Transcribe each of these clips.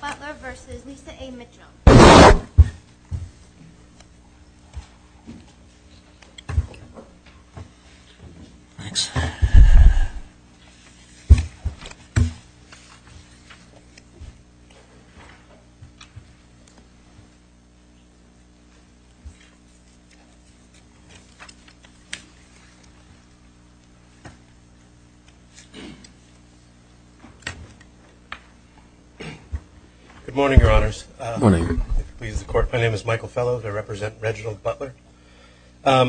Butler v. Lisa A. Mitchell Good morning, Your Honors. Good morning. If it pleases the Court, my name is Michael Fellow, and I represent Reginald Butler. I'd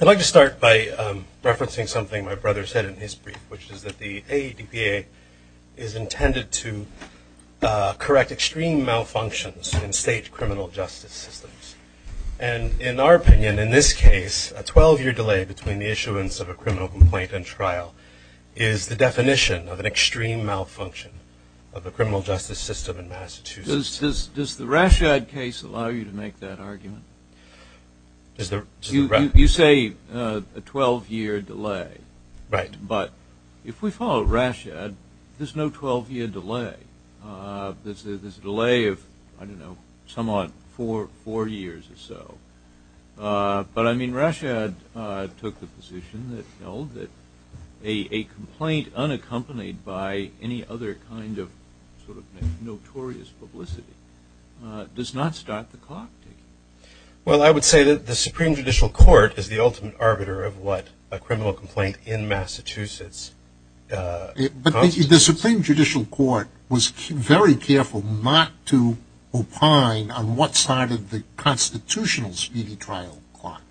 like to start by referencing something my brother said in his brief, which is that the AEDPA is intended to correct extreme malfunctions in state criminal justice systems. And in our opinion, in this case, a 12-year delay between the issuance of a criminal complaint and trial is the definition of an extreme malfunction of the criminal justice system in Massachusetts. Does the Rashad case allow you to make that argument? You say a 12-year delay, but if we follow Rashad, there's no 12-year delay. There's a delay of, I don't know, somewhat four years or so. But I mean, Rashad took the position that held that a complaint unaccompanied by any other kind of sort of notorious publicity does not start the court. Well, I would say that the Supreme Judicial Court is the ultimate arbiter of what a criminal complaint in Massachusetts constitutes. The Supreme Judicial Court was very careful not to opine on what side of the constitutional speedy trial clock.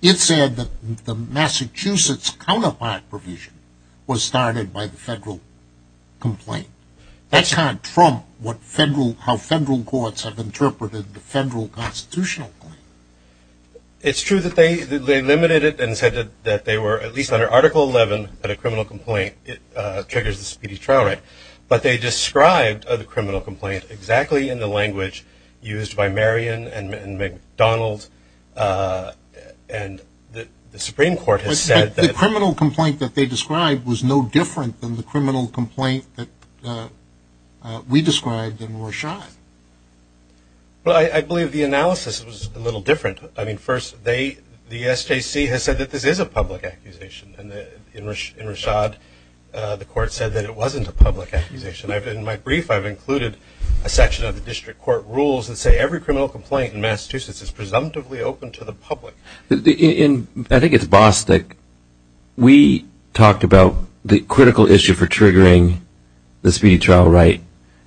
It said that the Massachusetts counterpart provision was started by the federal complaint. That's how Trump, how federal courts have interpreted the federal constitutional claim. It's true that they limited it and said that they were, at least under Article 11, that a criminal complaint triggers the speedy trial right. But they described the criminal complaint exactly in the language used by Marion and McDonald and the Supreme Court has said that... But the criminal complaint that they described was no different than the criminal complaint that we described in Rashad. Well, I believe the analysis was a little different. I mean, first, they, the SJC has said that this is a public accusation. And in Rashad, the court said that it wasn't a public accusation. In my brief, I've included a section of the district court rules that say every criminal complaint in Massachusetts is presumptively open to the public. In, I think it's Bostick, we talked about the critical issue for triggering the speedy trial right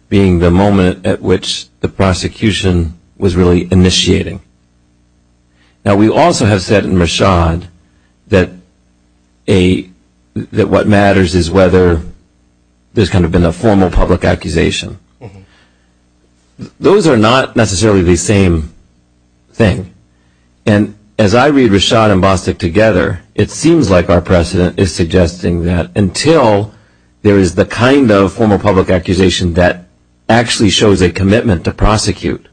being the moment at which the prosecution was really initiating. Now we also have said in Rashad that a, that what matters is whether there's kind of been a formal public accusation. Those are not necessarily the same thing. And as I read Rashad and Bostick together, it seems like our precedent is suggesting that until there is the kind of formal public accusation that actually shows a commitment to prosecute,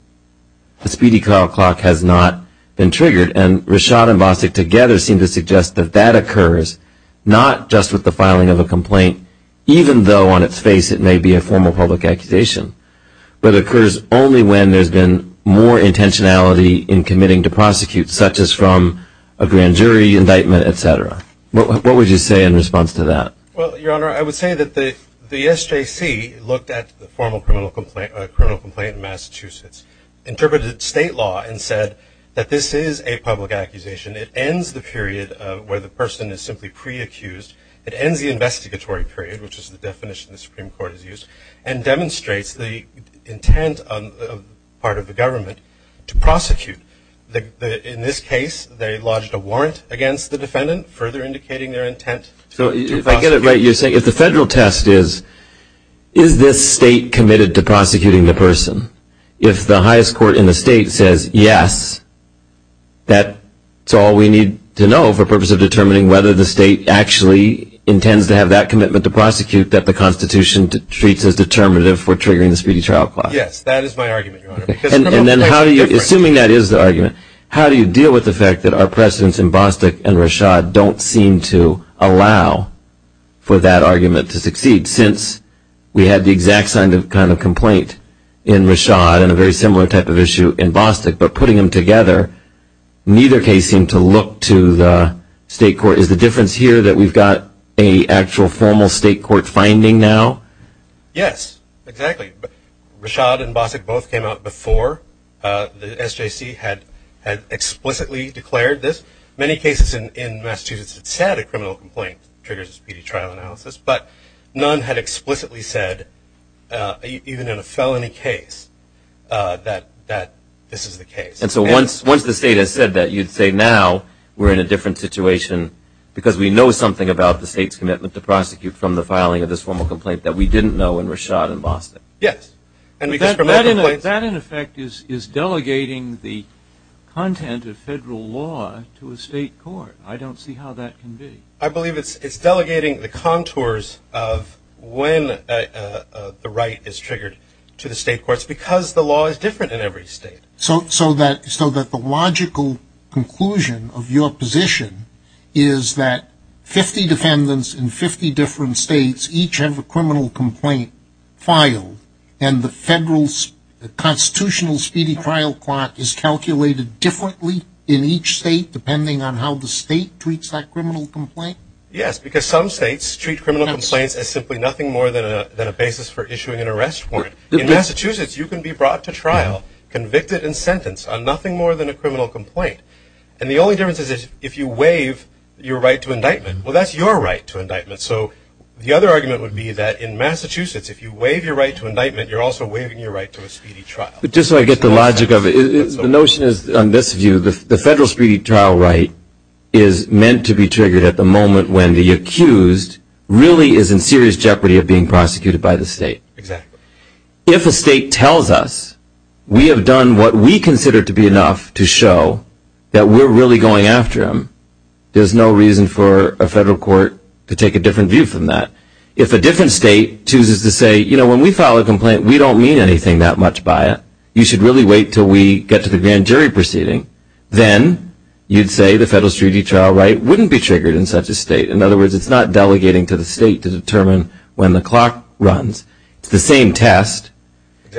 the speedy trial clock has not been triggered. And Rashad and Bostick together seem to suggest that that occurs not just with the filing of a complaint, even though on its face it may be a formal public accusation, but occurs only when there's been more intentionality in committing to prosecute, such as from a grand jury, indictment, et cetera. What would you say in response to that? Well, Your Honor, I would say that the SJC looked at the formal criminal complaint in Massachusetts, interpreted state law, and said that this is a public accusation. It ends the period where the person is simply pre-accused. It ends the investigatory period, which is the definition the Supreme Court has used, and demonstrates the intent on the part of the government to prosecute. In this case, they lodged a warrant against the defendant, further indicating their intent to prosecute. So if I get it right, you're saying if the federal test is, is this state committed to prosecuting the person? If the highest court in the state says yes, that's all we need to know for purpose of the case. He intends to have that commitment to prosecute that the Constitution treats as determinative for triggering the speedy trial clause. Yes, that is my argument, Your Honor. And then how do you, assuming that is the argument, how do you deal with the fact that our precedents in Bostick and Rashad don't seem to allow for that argument to succeed? Since we had the exact same kind of complaint in Rashad, and a very similar type of issue in Bostick, but putting them together, neither case seemed to look to the state court. Is the difference here that we've got a actual formal state court finding now? Yes, exactly. Rashad and Bostick both came out before the SJC had explicitly declared this. Many cases in Massachusetts that said a criminal complaint triggers a speedy trial analysis, but none had explicitly said, even in a felony case, that this is the case. And so once the state has said that, you'd say now we're in a different situation, because we know something about the state's commitment to prosecute from the filing of this formal complaint that we didn't know in Rashad and Bostick? Yes. And that, in effect, is delegating the content of federal law to a state court. I don't see how that can be. I believe it's delegating the contours of when the right is triggered to the state courts, because the law is different in every state. So that the logical conclusion of your position is that 50 defendants in 50 different states each have a criminal complaint filed, and the federal constitutional speedy trial clock is calculated differently in each state, depending on how the state treats that criminal complaint? Yes, because some states treat criminal complaints as simply nothing more than a basis for issuing an arrest warrant. In Massachusetts, you can be brought to trial, convicted, and sentenced on nothing more than a criminal complaint. And the only difference is if you waive your right to indictment. Well, that's your right to indictment. So the other argument would be that in Massachusetts, if you waive your right to indictment, you're also waiving your right to a speedy trial. Just so I get the logic of it, the notion is, on this view, the federal speedy trial right is meant to be triggered at the moment when the accused really is in serious jeopardy of being prosecuted by the state. Exactly. If a state tells us, we have done what we consider to be enough to show that we're really going after him, there's no reason for a federal court to take a different view from that. If a different state chooses to say, you know, when we file a complaint, we don't mean anything that much by it. You should really wait till we get to the grand jury proceeding. Then you'd say the federal speedy trial right wouldn't be triggered in such a state. In other words, it's not delegating to the state to determine when the clock runs. It's the same test.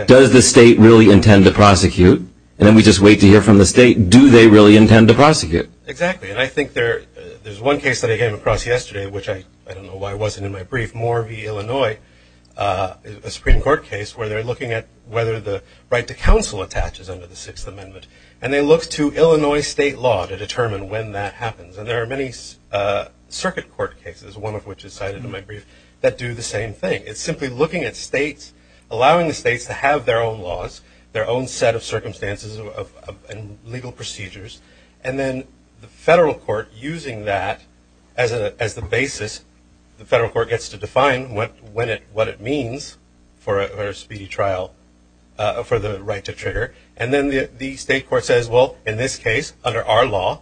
Does the state really intend to prosecute? And then we just wait to hear from the state, do they really intend to prosecute? Exactly. And I think there's one case that I came across yesterday, which I don't know why it wasn't in my brief, Moore v. Illinois, a Supreme Court case where they're looking at whether the right to counsel attaches under the Sixth Amendment. And they looked to Illinois state law to determine when that happens. And there are many circuit court cases, one of which is cited in my brief, that do the same thing. It's simply looking at states, allowing the states to have their own laws, their own set of circumstances and legal procedures. And then the federal court using that as the basis, the federal court gets to define what it means for a speedy trial for the right to trigger. And then the state court says, well, in this case, under our law,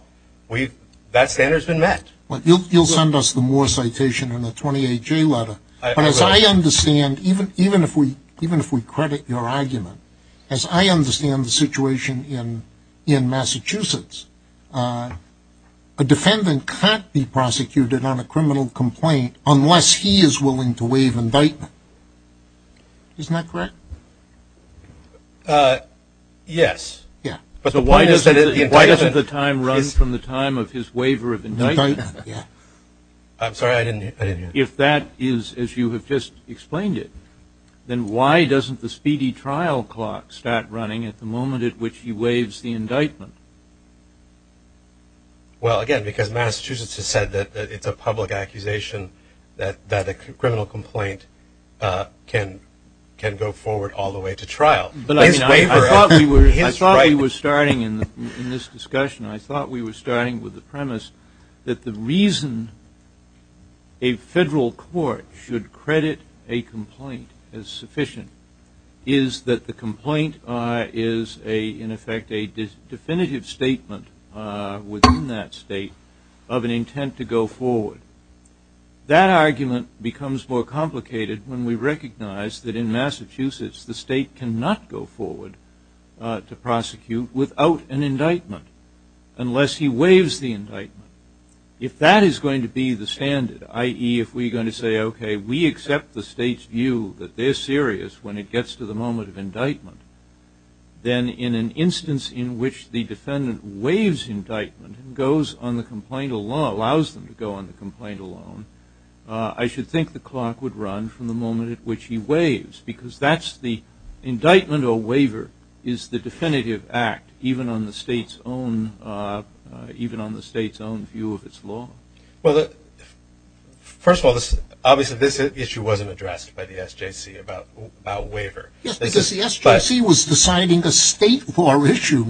that standard's been met. You'll send us the Moore citation in the 28-J letter, but as I understand, even if we credit your argument, as I understand the situation in Massachusetts, a defendant can't be prosecuted on a criminal complaint unless he is willing to waive indictment. Isn't that correct? Yes. Yeah. But the point is that if the indictment is... So why doesn't the time run from the time of his waiver of indictment? Yeah. I'm sorry. I didn't hear that. If that is, as you have just explained it, then why doesn't the speedy trial clock start running at the moment at which he waives the indictment? Well, again, because Massachusetts has said that it's a public accusation that a criminal complaint can go forward all the way to trial. But I thought we were starting in this discussion, I thought we were starting with the premise that the reason a federal court should credit a complaint as sufficient is that the complaint is, in effect, a definitive statement within that state of an intent to go forward. That argument becomes more complicated when we recognize that in Massachusetts, the state cannot go forward to prosecute without an indictment unless he waives the indictment. If that is going to be the standard, i.e., if we're going to say, OK, we accept the state's view that they're serious when it gets to the moment of indictment, then in an instance in which the defendant waives indictment and goes on the complaint alone, allows them to go on the complaint alone, I should think the clock would run from the moment at which he waives, because that's the indictment or waiver is the definitive act, even on the state's own view of its law. Well, first of all, obviously, this issue wasn't addressed by the SJC about waiver. Yes, because the SJC was deciding a state law issue,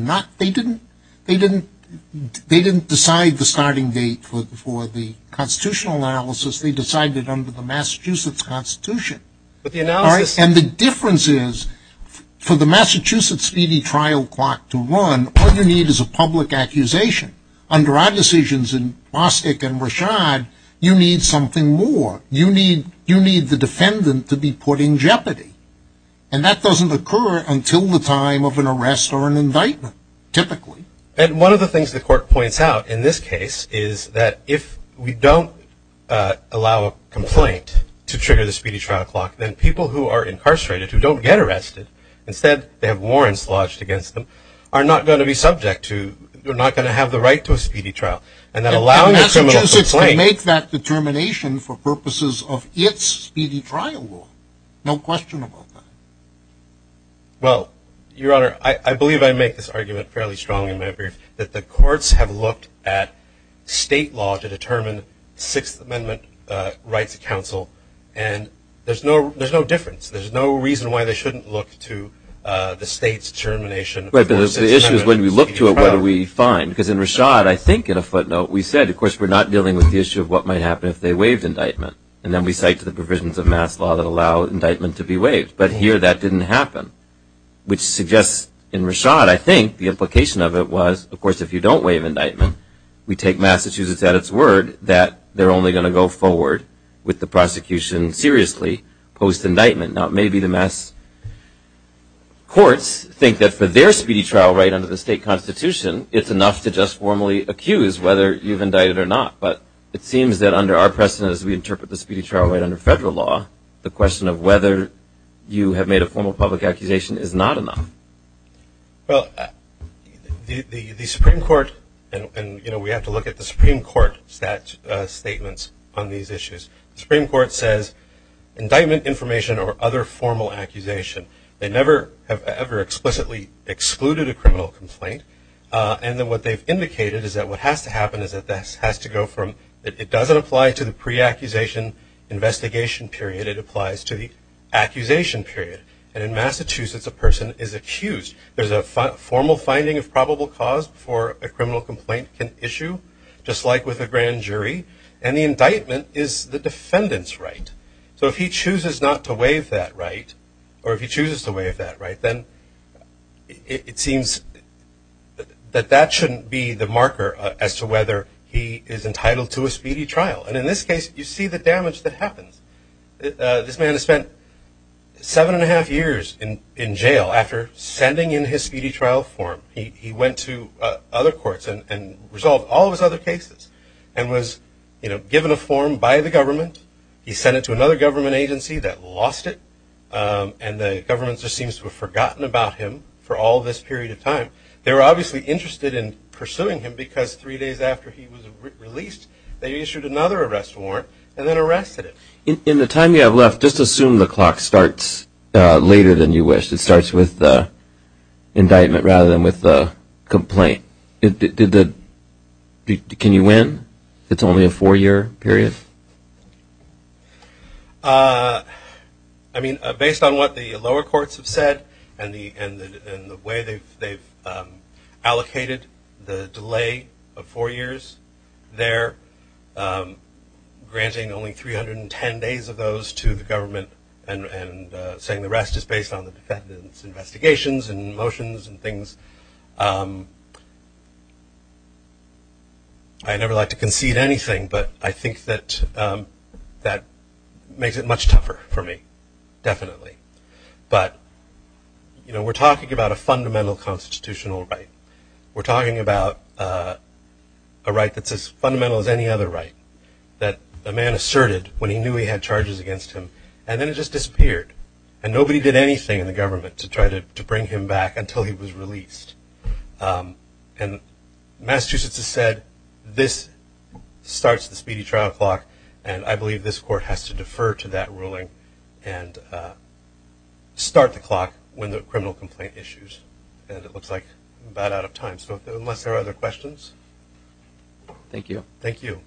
they didn't decide the starting date for the constitutional analysis, they decided it under the Massachusetts Constitution. And the difference is, for the Massachusetts speedy trial clock to run, all you need is a public accusation. Under our decisions in Bostic and Rashad, you need something more, you need the defendant to be put in jeopardy. And that doesn't occur until the time of an arrest or an indictment, typically. And one of the things the court points out in this case is that if we don't allow a complaint to trigger the speedy trial clock, then people who are incarcerated who don't get arrested, instead, they have warrants lodged against them, are not going to be subject to, they're not going to have the right to a speedy trial. And that allowing a criminal complaint is to make that determination for purposes of its speedy trial law. No question about that. Well, Your Honor, I believe I make this argument fairly strong in my brief, that the courts have looked at state law to determine Sixth Amendment rights of counsel, and there's no difference. There's no reason why they shouldn't look to the state's determination for speedy trial. Right, but the issue is when we look to it, what do we find? Because in Rashad, I think, in a footnote, we said, of course, we're not dealing with the issue of what might happen if they waived indictment. And then we cite the provisions of mass law that allow indictment to be waived. But here, that didn't happen, which suggests in Rashad, I think, the implication of it was, of course, if you don't waive indictment, we take Massachusetts at its word that they're only going to go forward with the prosecution seriously post-indictment. Now maybe the mass courts think that for their speedy trial right under the state constitution, it's enough to just formally accuse whether you've indicted or not. But it seems that under our precedent, as we interpret the speedy trial right under federal law, the question of whether you have made a formal public accusation is not enough. Well, the Supreme Court, and we have to look at the Supreme Court's stat statements on these issues. The Supreme Court says, indictment, information, or other formal accusation, they never have ever explicitly excluded a criminal complaint. And then what they've indicated is that what has to happen is that this has to go from, it doesn't apply to the pre-accusation investigation period, it applies to the accusation period. And in Massachusetts, a person is accused. There's a formal finding of probable cause before a criminal complaint can issue, just like with a grand jury. And the indictment is the defendant's right. So if he chooses not to waive that right, or if he chooses to waive that right, then it seems that that shouldn't be the marker as to whether he is entitled to a speedy trial. And in this case, you see the damage that happens. This man has spent seven and a half years in jail after sending in his speedy trial form. He went to other courts and resolved all of his other cases, and was given a form by the to another government agency that lost it. And the government just seems to have forgotten about him for all this period of time. They were obviously interested in pursuing him because three days after he was released, they issued another arrest warrant and then arrested him. In the time you have left, just assume the clock starts later than you wish. It starts with the indictment rather than with the complaint. Can you win? It's only a four-year period? I mean, based on what the lower courts have said and the way they've allocated the delay of four years there, granting only 310 days of those to the government and saying the rest is based on the defendant's investigations and motions and things, I'd never like to concede anything, but I think that makes it much tougher for me, definitely. But we're talking about a fundamental constitutional right. We're talking about a right that's as fundamental as any other right that a man asserted when he knew he had charges against him, and then it just disappeared. And nobody did anything in the government to try to bring him back until he was released. And Massachusetts has said this starts the speedy trial clock, and I believe this court has to defer to that ruling and start the clock when the criminal complaint issues. And it looks like I'm about out of time, so unless there are other questions? Thank you. Thank you.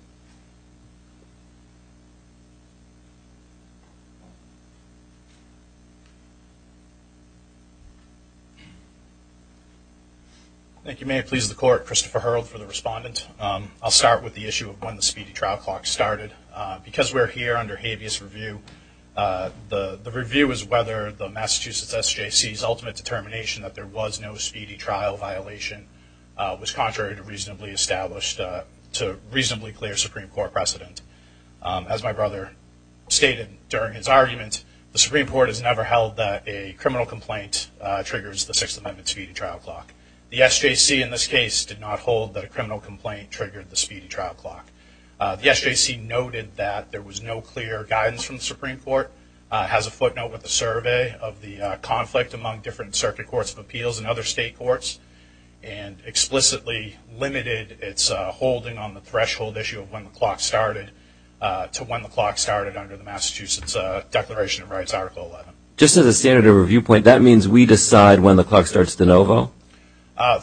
Thank you. May it please the court, Christopher Hurrell for the respondent. I'll start with the issue of when the speedy trial clock started. Because we're here under habeas review, the review is whether the Massachusetts SJC's ultimate determination that there was no speedy trial violation was contrary to reasonably established, to reasonably clear Supreme Court precedent. As my brother stated during his argument, the Supreme Court has never held that a criminal complaint triggers the Sixth Amendment speedy trial clock. The SJC in this case did not hold that a criminal complaint triggered the speedy trial clock. The SJC noted that there was no clear guidance from the Supreme Court, has a footnote with the survey of the conflict among different circuit courts of appeals and other state courts, and explicitly limited its holding on the threshold issue of when the clock started to when the clock started under the Massachusetts Declaration of Rights Article 11. Just as a standard of a viewpoint, that means we decide when the clock starts de novo?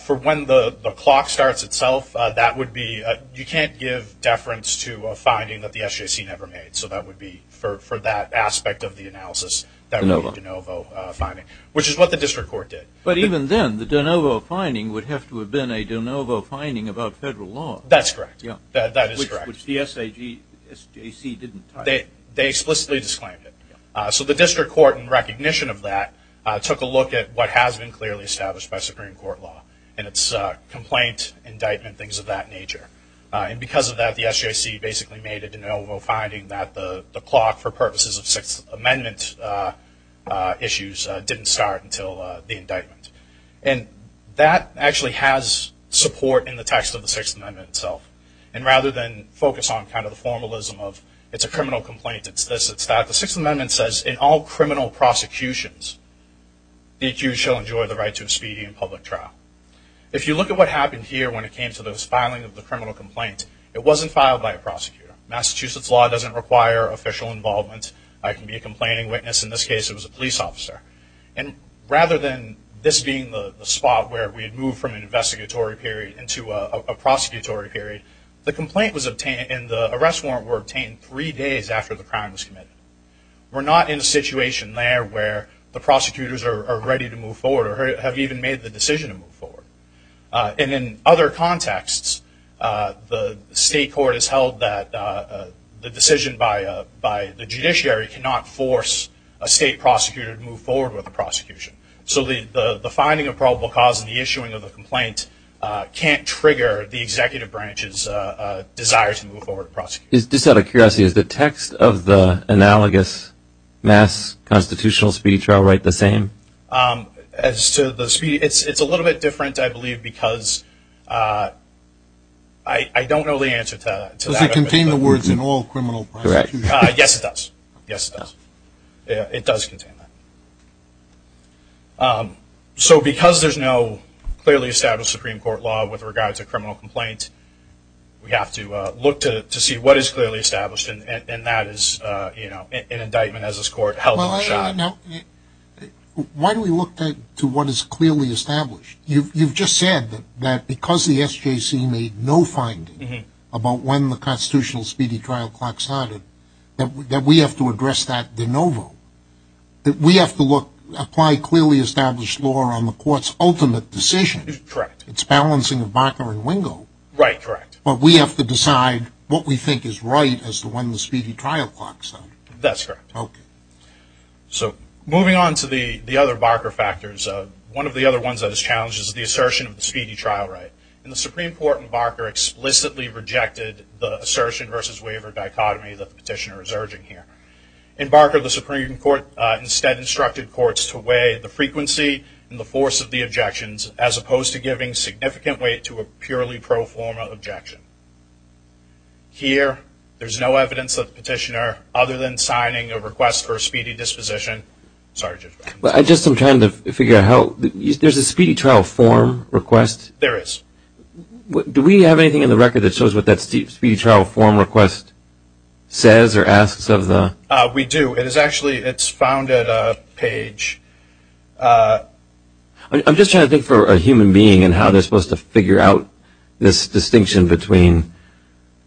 For when the clock starts itself, that would be, you can't give deference to a finding that the SJC never made. So that would be, for that aspect of the analysis, that would be de novo finding. Which is what the district court did. But even then, the de novo finding would have to have been a de novo finding about federal law. That's correct. That is correct. Which the SJC didn't type. They explicitly disclaimed it. So the district court, in recognition of that, took a look at what has been clearly established by Supreme Court law, and it's complaint, indictment, things of that nature. And because of that, the SJC basically made a de novo finding that the clock, for purposes of Sixth Amendment issues, didn't start until the indictment. And that actually has support in the text of the Sixth Amendment itself. And rather than focus on kind of the formalism of, it's a criminal complaint, it's this, it's that. The Sixth Amendment says, in all criminal prosecutions, the accused shall enjoy the right to a speedy and public trial. If you look at what happened here when it came to this filing of the criminal complaint, it wasn't filed by a prosecutor. Massachusetts law doesn't require official involvement. I can be a complaining witness, in this case it was a police officer. And rather than this being the spot where we had moved from an investigatory period in three days after the crime was committed, we're not in a situation there where the prosecutors are ready to move forward, or have even made the decision to move forward. And in other contexts, the state court has held that the decision by the judiciary cannot force a state prosecutor to move forward with the prosecution. So the finding of probable cause and the issuing of the complaint can't trigger the executive branch's desire to move forward with the prosecution. Is, just out of curiosity, is the text of the analogous mass constitutional speedy trial right the same? As to the speedy, it's a little bit different, I believe, because I don't know the answer to that. Does it contain the words, in all criminal prosecutions? Correct. Yes, it does. Yes, it does. It does contain that. So because there's no clearly established Supreme Court law with regard to criminal complaint, we have to look to see what is clearly established, and that is an indictment as this court held in the shot. Why do we look to what is clearly established? You've just said that because the SJC made no finding about when the constitutional speedy trial clock started, that we have to address that de novo. We have to apply clearly established law on the court's ultimate decision. Correct. It's balancing of Barker and Wingo. Right, correct. But we have to decide what we think is right as to when the speedy trial clock started. That's correct. Okay. So, moving on to the other Barker factors, one of the other ones that is challenged is the assertion of the speedy trial right. In the Supreme Court, Barker explicitly rejected the assertion versus waiver dichotomy that the petitioner is urging here. In Barker, the Supreme Court instead instructed courts to weigh the frequency and the force of the objections as opposed to giving significant weight to a purely pro forma objection. Here, there's no evidence that the petitioner, other than signing a request for a speedy disposition. Sorry, Judge Brown. I'm just trying to figure out how, there's a speedy trial form request? There is. Do we have anything in the record that shows what that speedy trial form request says or asks of the? We do. It is actually, it's found at a page. I'm just trying to think for a human being and how they're supposed to figure out this distinction between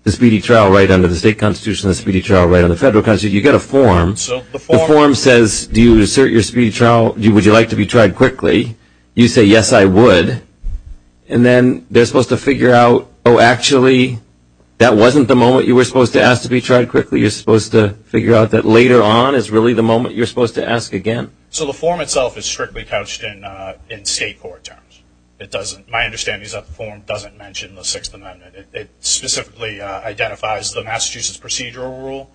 the speedy trial right under the state constitution, the speedy trial right under the federal constitution. You get a form. So, the form. The form says, do you assert your speedy trial? Would you like to be tried quickly? You say, yes, I would. And then, they're supposed to figure out, oh, actually, that wasn't the moment you were supposed to ask to be tried quickly. You're supposed to figure out that later on is really the moment you're supposed to ask again. So, the form itself is strictly couched in state court terms. It doesn't, my understanding is that the form doesn't mention the Sixth Amendment. It specifically identifies the Massachusetts procedural rule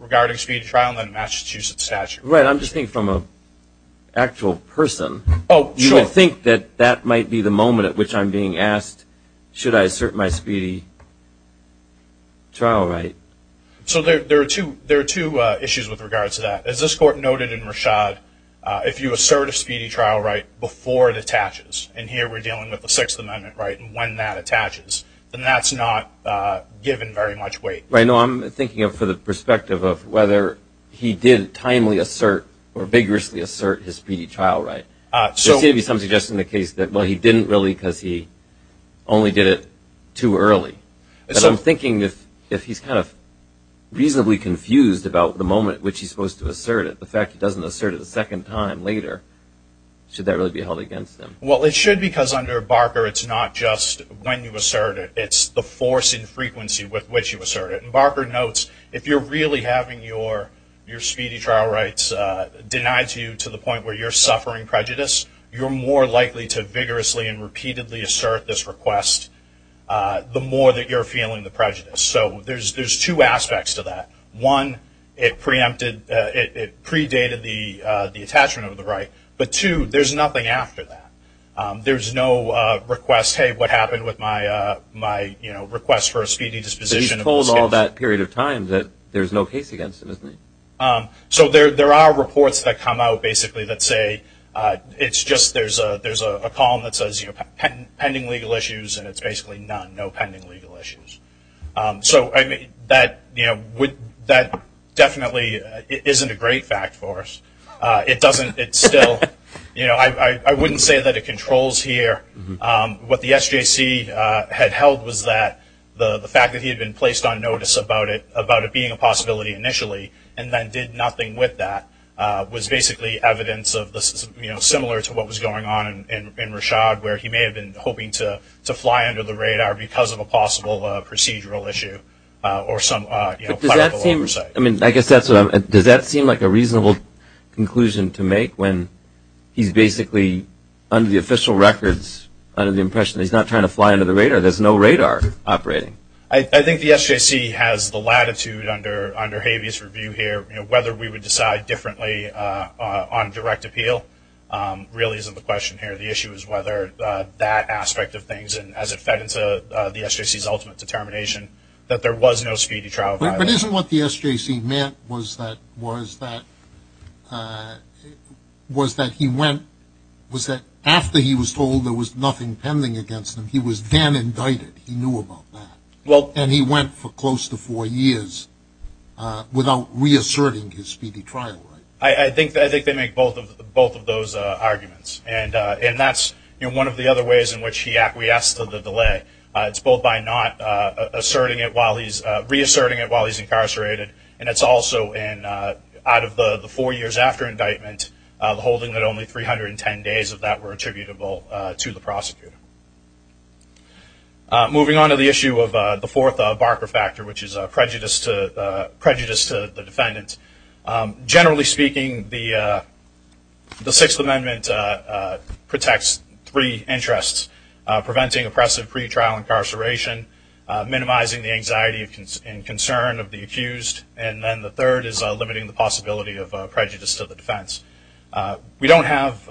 regarding speedy trial in the Massachusetts statute. Right. I'm just thinking from an actual person. Oh, sure. You would think that that might be the moment at which I'm being asked, should I assert my speedy trial right? So, there are two issues with regard to that. As this court noted in Rashad, if you assert a speedy trial right before it attaches, and here we're dealing with the Sixth Amendment right, and when that attaches, then that's not given very much weight. Right. No, I'm thinking of it for the perspective of whether he did timely assert or vigorously assert his speedy trial right. So, maybe some suggestion in the case that he didn't really because he only did it too early. So, I'm thinking if he's kind of reasonably confused about the moment which he's supposed to assert it, the fact he doesn't assert it a second time later, should that really be held against him? Well, it should because under Barker, it's not just when you assert it. It's the force and frequency with which you assert it. Barker notes, if you're really having your speedy trial rights denied to you to the point where you're suffering prejudice, you're more likely to vigorously and repeatedly assert this request the more that you're feeling the prejudice. So, there's two aspects to that. One, it predated the attachment of the right, but two, there's nothing after that. There's no request, hey, what happened with my request for a speedy disposition of this case? He's told all that period of time that there's no case against him, isn't he? So, there are reports that come out basically that say, it's just there's a column that says pending legal issues and it's basically none, no pending legal issues. So, I mean, that definitely isn't a great fact for us. It doesn't, it's still, you know, I wouldn't say that it controls here. What the SJC had held was that the fact that he had been placed on notice about it being a possibility initially and then did nothing with that was basically evidence of the, you know, similar to what was going on in Rashad where he may have been hoping to fly under the radar because of a possible procedural issue or some, you know, political oversight. But does that seem, I mean, I guess that's what I'm, does that seem like a reasonable conclusion to make when he's basically under the official records, under the impression he's not trying to fly under the radar, there's no radar operating? I think the SJC has the latitude under, under Habeas review here, you know, whether we would decide differently on direct appeal really isn't the question here. The issue is whether that aspect of things and as it fed into the SJC's ultimate determination that there was no speedy trial. But isn't what the SJC meant was that, was that, was that he went, was that after he was told there was nothing pending against him, he was then indicted, he knew about that. Well. And he went for close to four years without reasserting his speedy trial, right? I think, I think they make both of those arguments and that's, you know, one of the other ways in which he acquiesced to the delay. It's both by not asserting it while he's, reasserting it while he's incarcerated and it's also in, out of the four years after indictment, the holding that only 310 days of that were attributable to the prosecutor. Moving on to the issue of the fourth Barker factor, which is prejudice to, prejudice to the defendant. Generally speaking, the, the Sixth Amendment protects three interests, preventing oppressive pretrial incarceration, minimizing the anxiety and concern of the accused, and then the third is limiting the possibility of prejudice to the defense. We don't have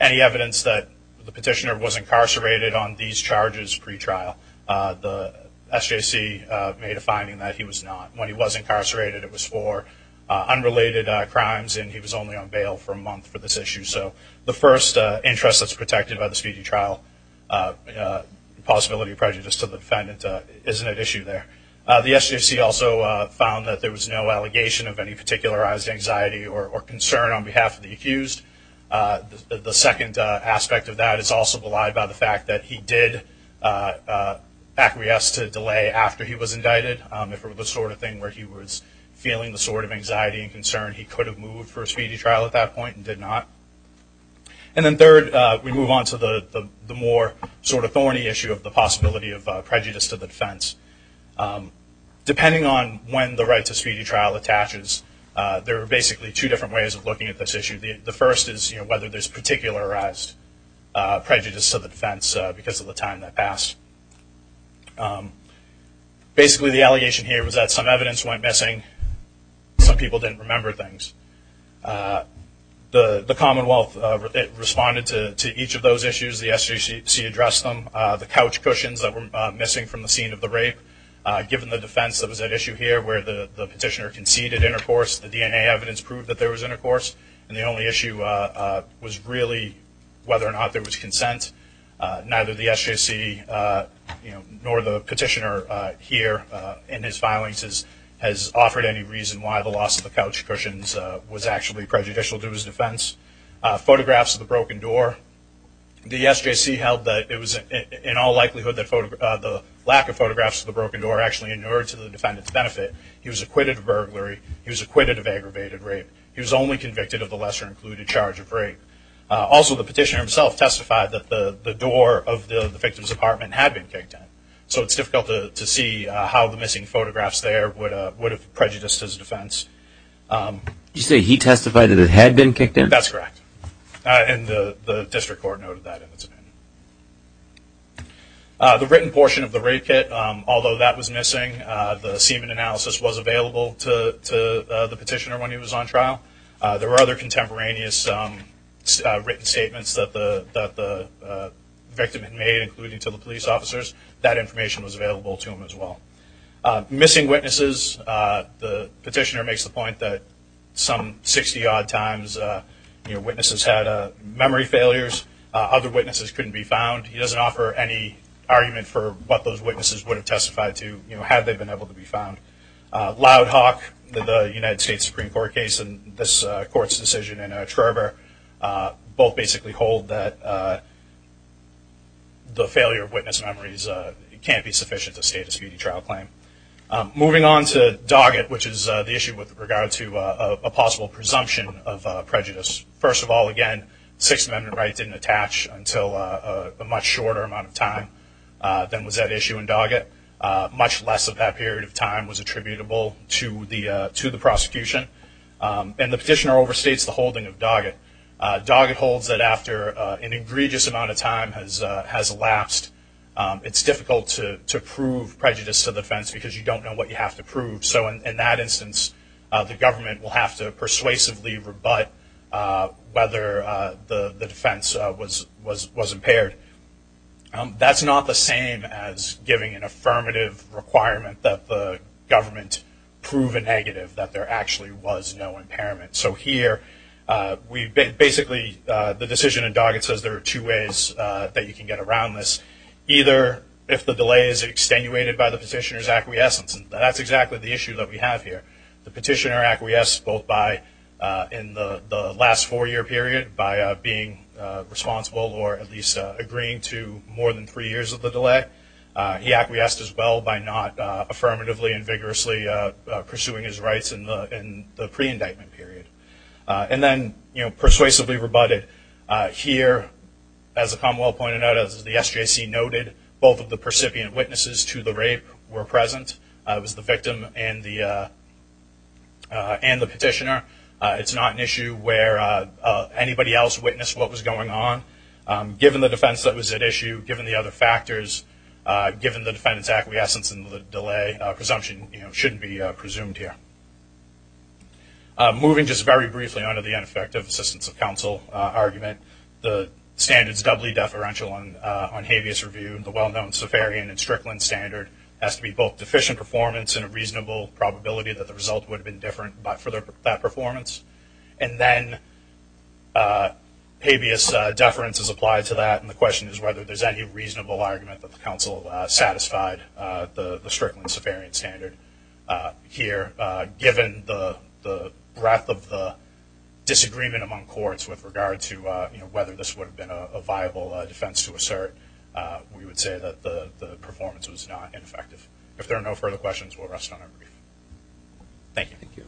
any evidence that the petitioner was incarcerated on these charges pretrial. The SJC made a finding that he was not. When he was incarcerated, it was for unrelated crimes and he was only on bail for a month for this issue. So, the first interest that's protected by the speedy trial, the possibility of prejudice to the defendant isn't at issue there. The SJC also found that there was no allegation of any particularized anxiety or concern on behalf of the accused. The second aspect of that is also belied by the fact that he did acquiesce to delay after he was indicted. If it was the sort of thing where he was feeling the sort of anxiety and concern, he could have moved for a speedy trial at that point and did not. And then third, we move on to the more sort of thorny issue of the possibility of prejudice to the defense. Depending on when the right to speedy trial attaches, there are basically two different ways of looking at this issue. The first is whether there's particularized prejudice to the defense because of the time that passed. Basically the allegation here was that some evidence went missing. Some people didn't remember things. The Commonwealth responded to each of those issues. The SJC addressed them. The couch cushions that were missing from the scene of the rape, given the defense that was at issue here where the petitioner conceded intercourse, the DNA evidence proved that there was intercourse. And the only issue was really whether or not there was consent. Neither the SJC nor the petitioner here in his filings has offered any reason why the loss of the couch cushions was actually prejudicial to his defense. Photographs of the broken door. The SJC held that it was in all likelihood that the lack of photographs of the broken door actually inured to the defendant's benefit. He was acquitted of burglary. He was acquitted of aggravated rape. He was only convicted of the lesser included charge of rape. Also the petitioner himself testified that the door of the victim's apartment had been kicked in. So it's difficult to see how the missing photographs there would have prejudiced his defense. You say he testified that it had been kicked in? That's correct. And the district court noted that in its opinion. The written portion of the rape kit, although that was missing, the semen analysis was available to the petitioner when he was on trial. There were other contemporaneous written statements that the victim had made including to the police officers. That information was available to him as well. Missing witnesses. The petitioner makes the point that some 60 odd times witnesses had memory failures. Other witnesses couldn't be found. He doesn't offer any argument for what those witnesses would have testified to had they been able to be found. Loud Hawk, the United States Supreme Court case and this court's decision in Trevor both basically hold that the failure of witness memories can't be sufficient to state a speedy trial claim. Moving on to Doggett, which is the issue with regard to a possible presumption of prejudice. First of all, again, Sixth Amendment rights didn't attach until a much shorter amount of time than was at issue in Doggett. Much less of that period of time was attributable to the prosecution. And the petitioner overstates the holding of Doggett. Doggett holds that after an egregious amount of time has elapsed, it's difficult to prove prejudice to the defense because you don't know what you have to prove. So in that instance, the government will have to persuasively rebut whether the defense was impaired. That's not the same as giving an affirmative requirement that the government prove a negative that there actually was no impairment. So here, basically the decision in Doggett says there are two ways that you can get around this. Either if the delay is extenuated by the petitioner's acquiescence, and that's exactly the issue that we have here. The petitioner acquiesced both in the last four year period by being responsible or at least agreeing to more than three years of the delay. He acquiesced as well by not affirmatively and vigorously pursuing his rights in the pre-indictment period. And then persuasively rebutted. Here as the Commonwealth pointed out, as the SJC noted, both of the percipient witnesses to the rape were present. It was the victim and the petitioner. It's not an issue where anybody else witnessed what was going on. Given the defense that was at issue, given the other factors, given the defendant's acquiescence and the delay, presumption shouldn't be presumed here. Moving just very briefly on to the ineffective assistance of counsel argument, the standard is doubly deferential on habeas review. The well-known Safarian and Strickland standard has to be both deficient performance and a reasonable probability that the result would have been different for that performance. And then habeas deference is applied to that and the question is whether there's any reasonable argument that the counsel satisfied the Strickland-Safarian standard here. Given the breadth of the disagreement among courts with regard to whether this would have been a viable defense to assert, we would say that the performance was not ineffective. If there are no further questions, we'll rest on our brief. Thank you.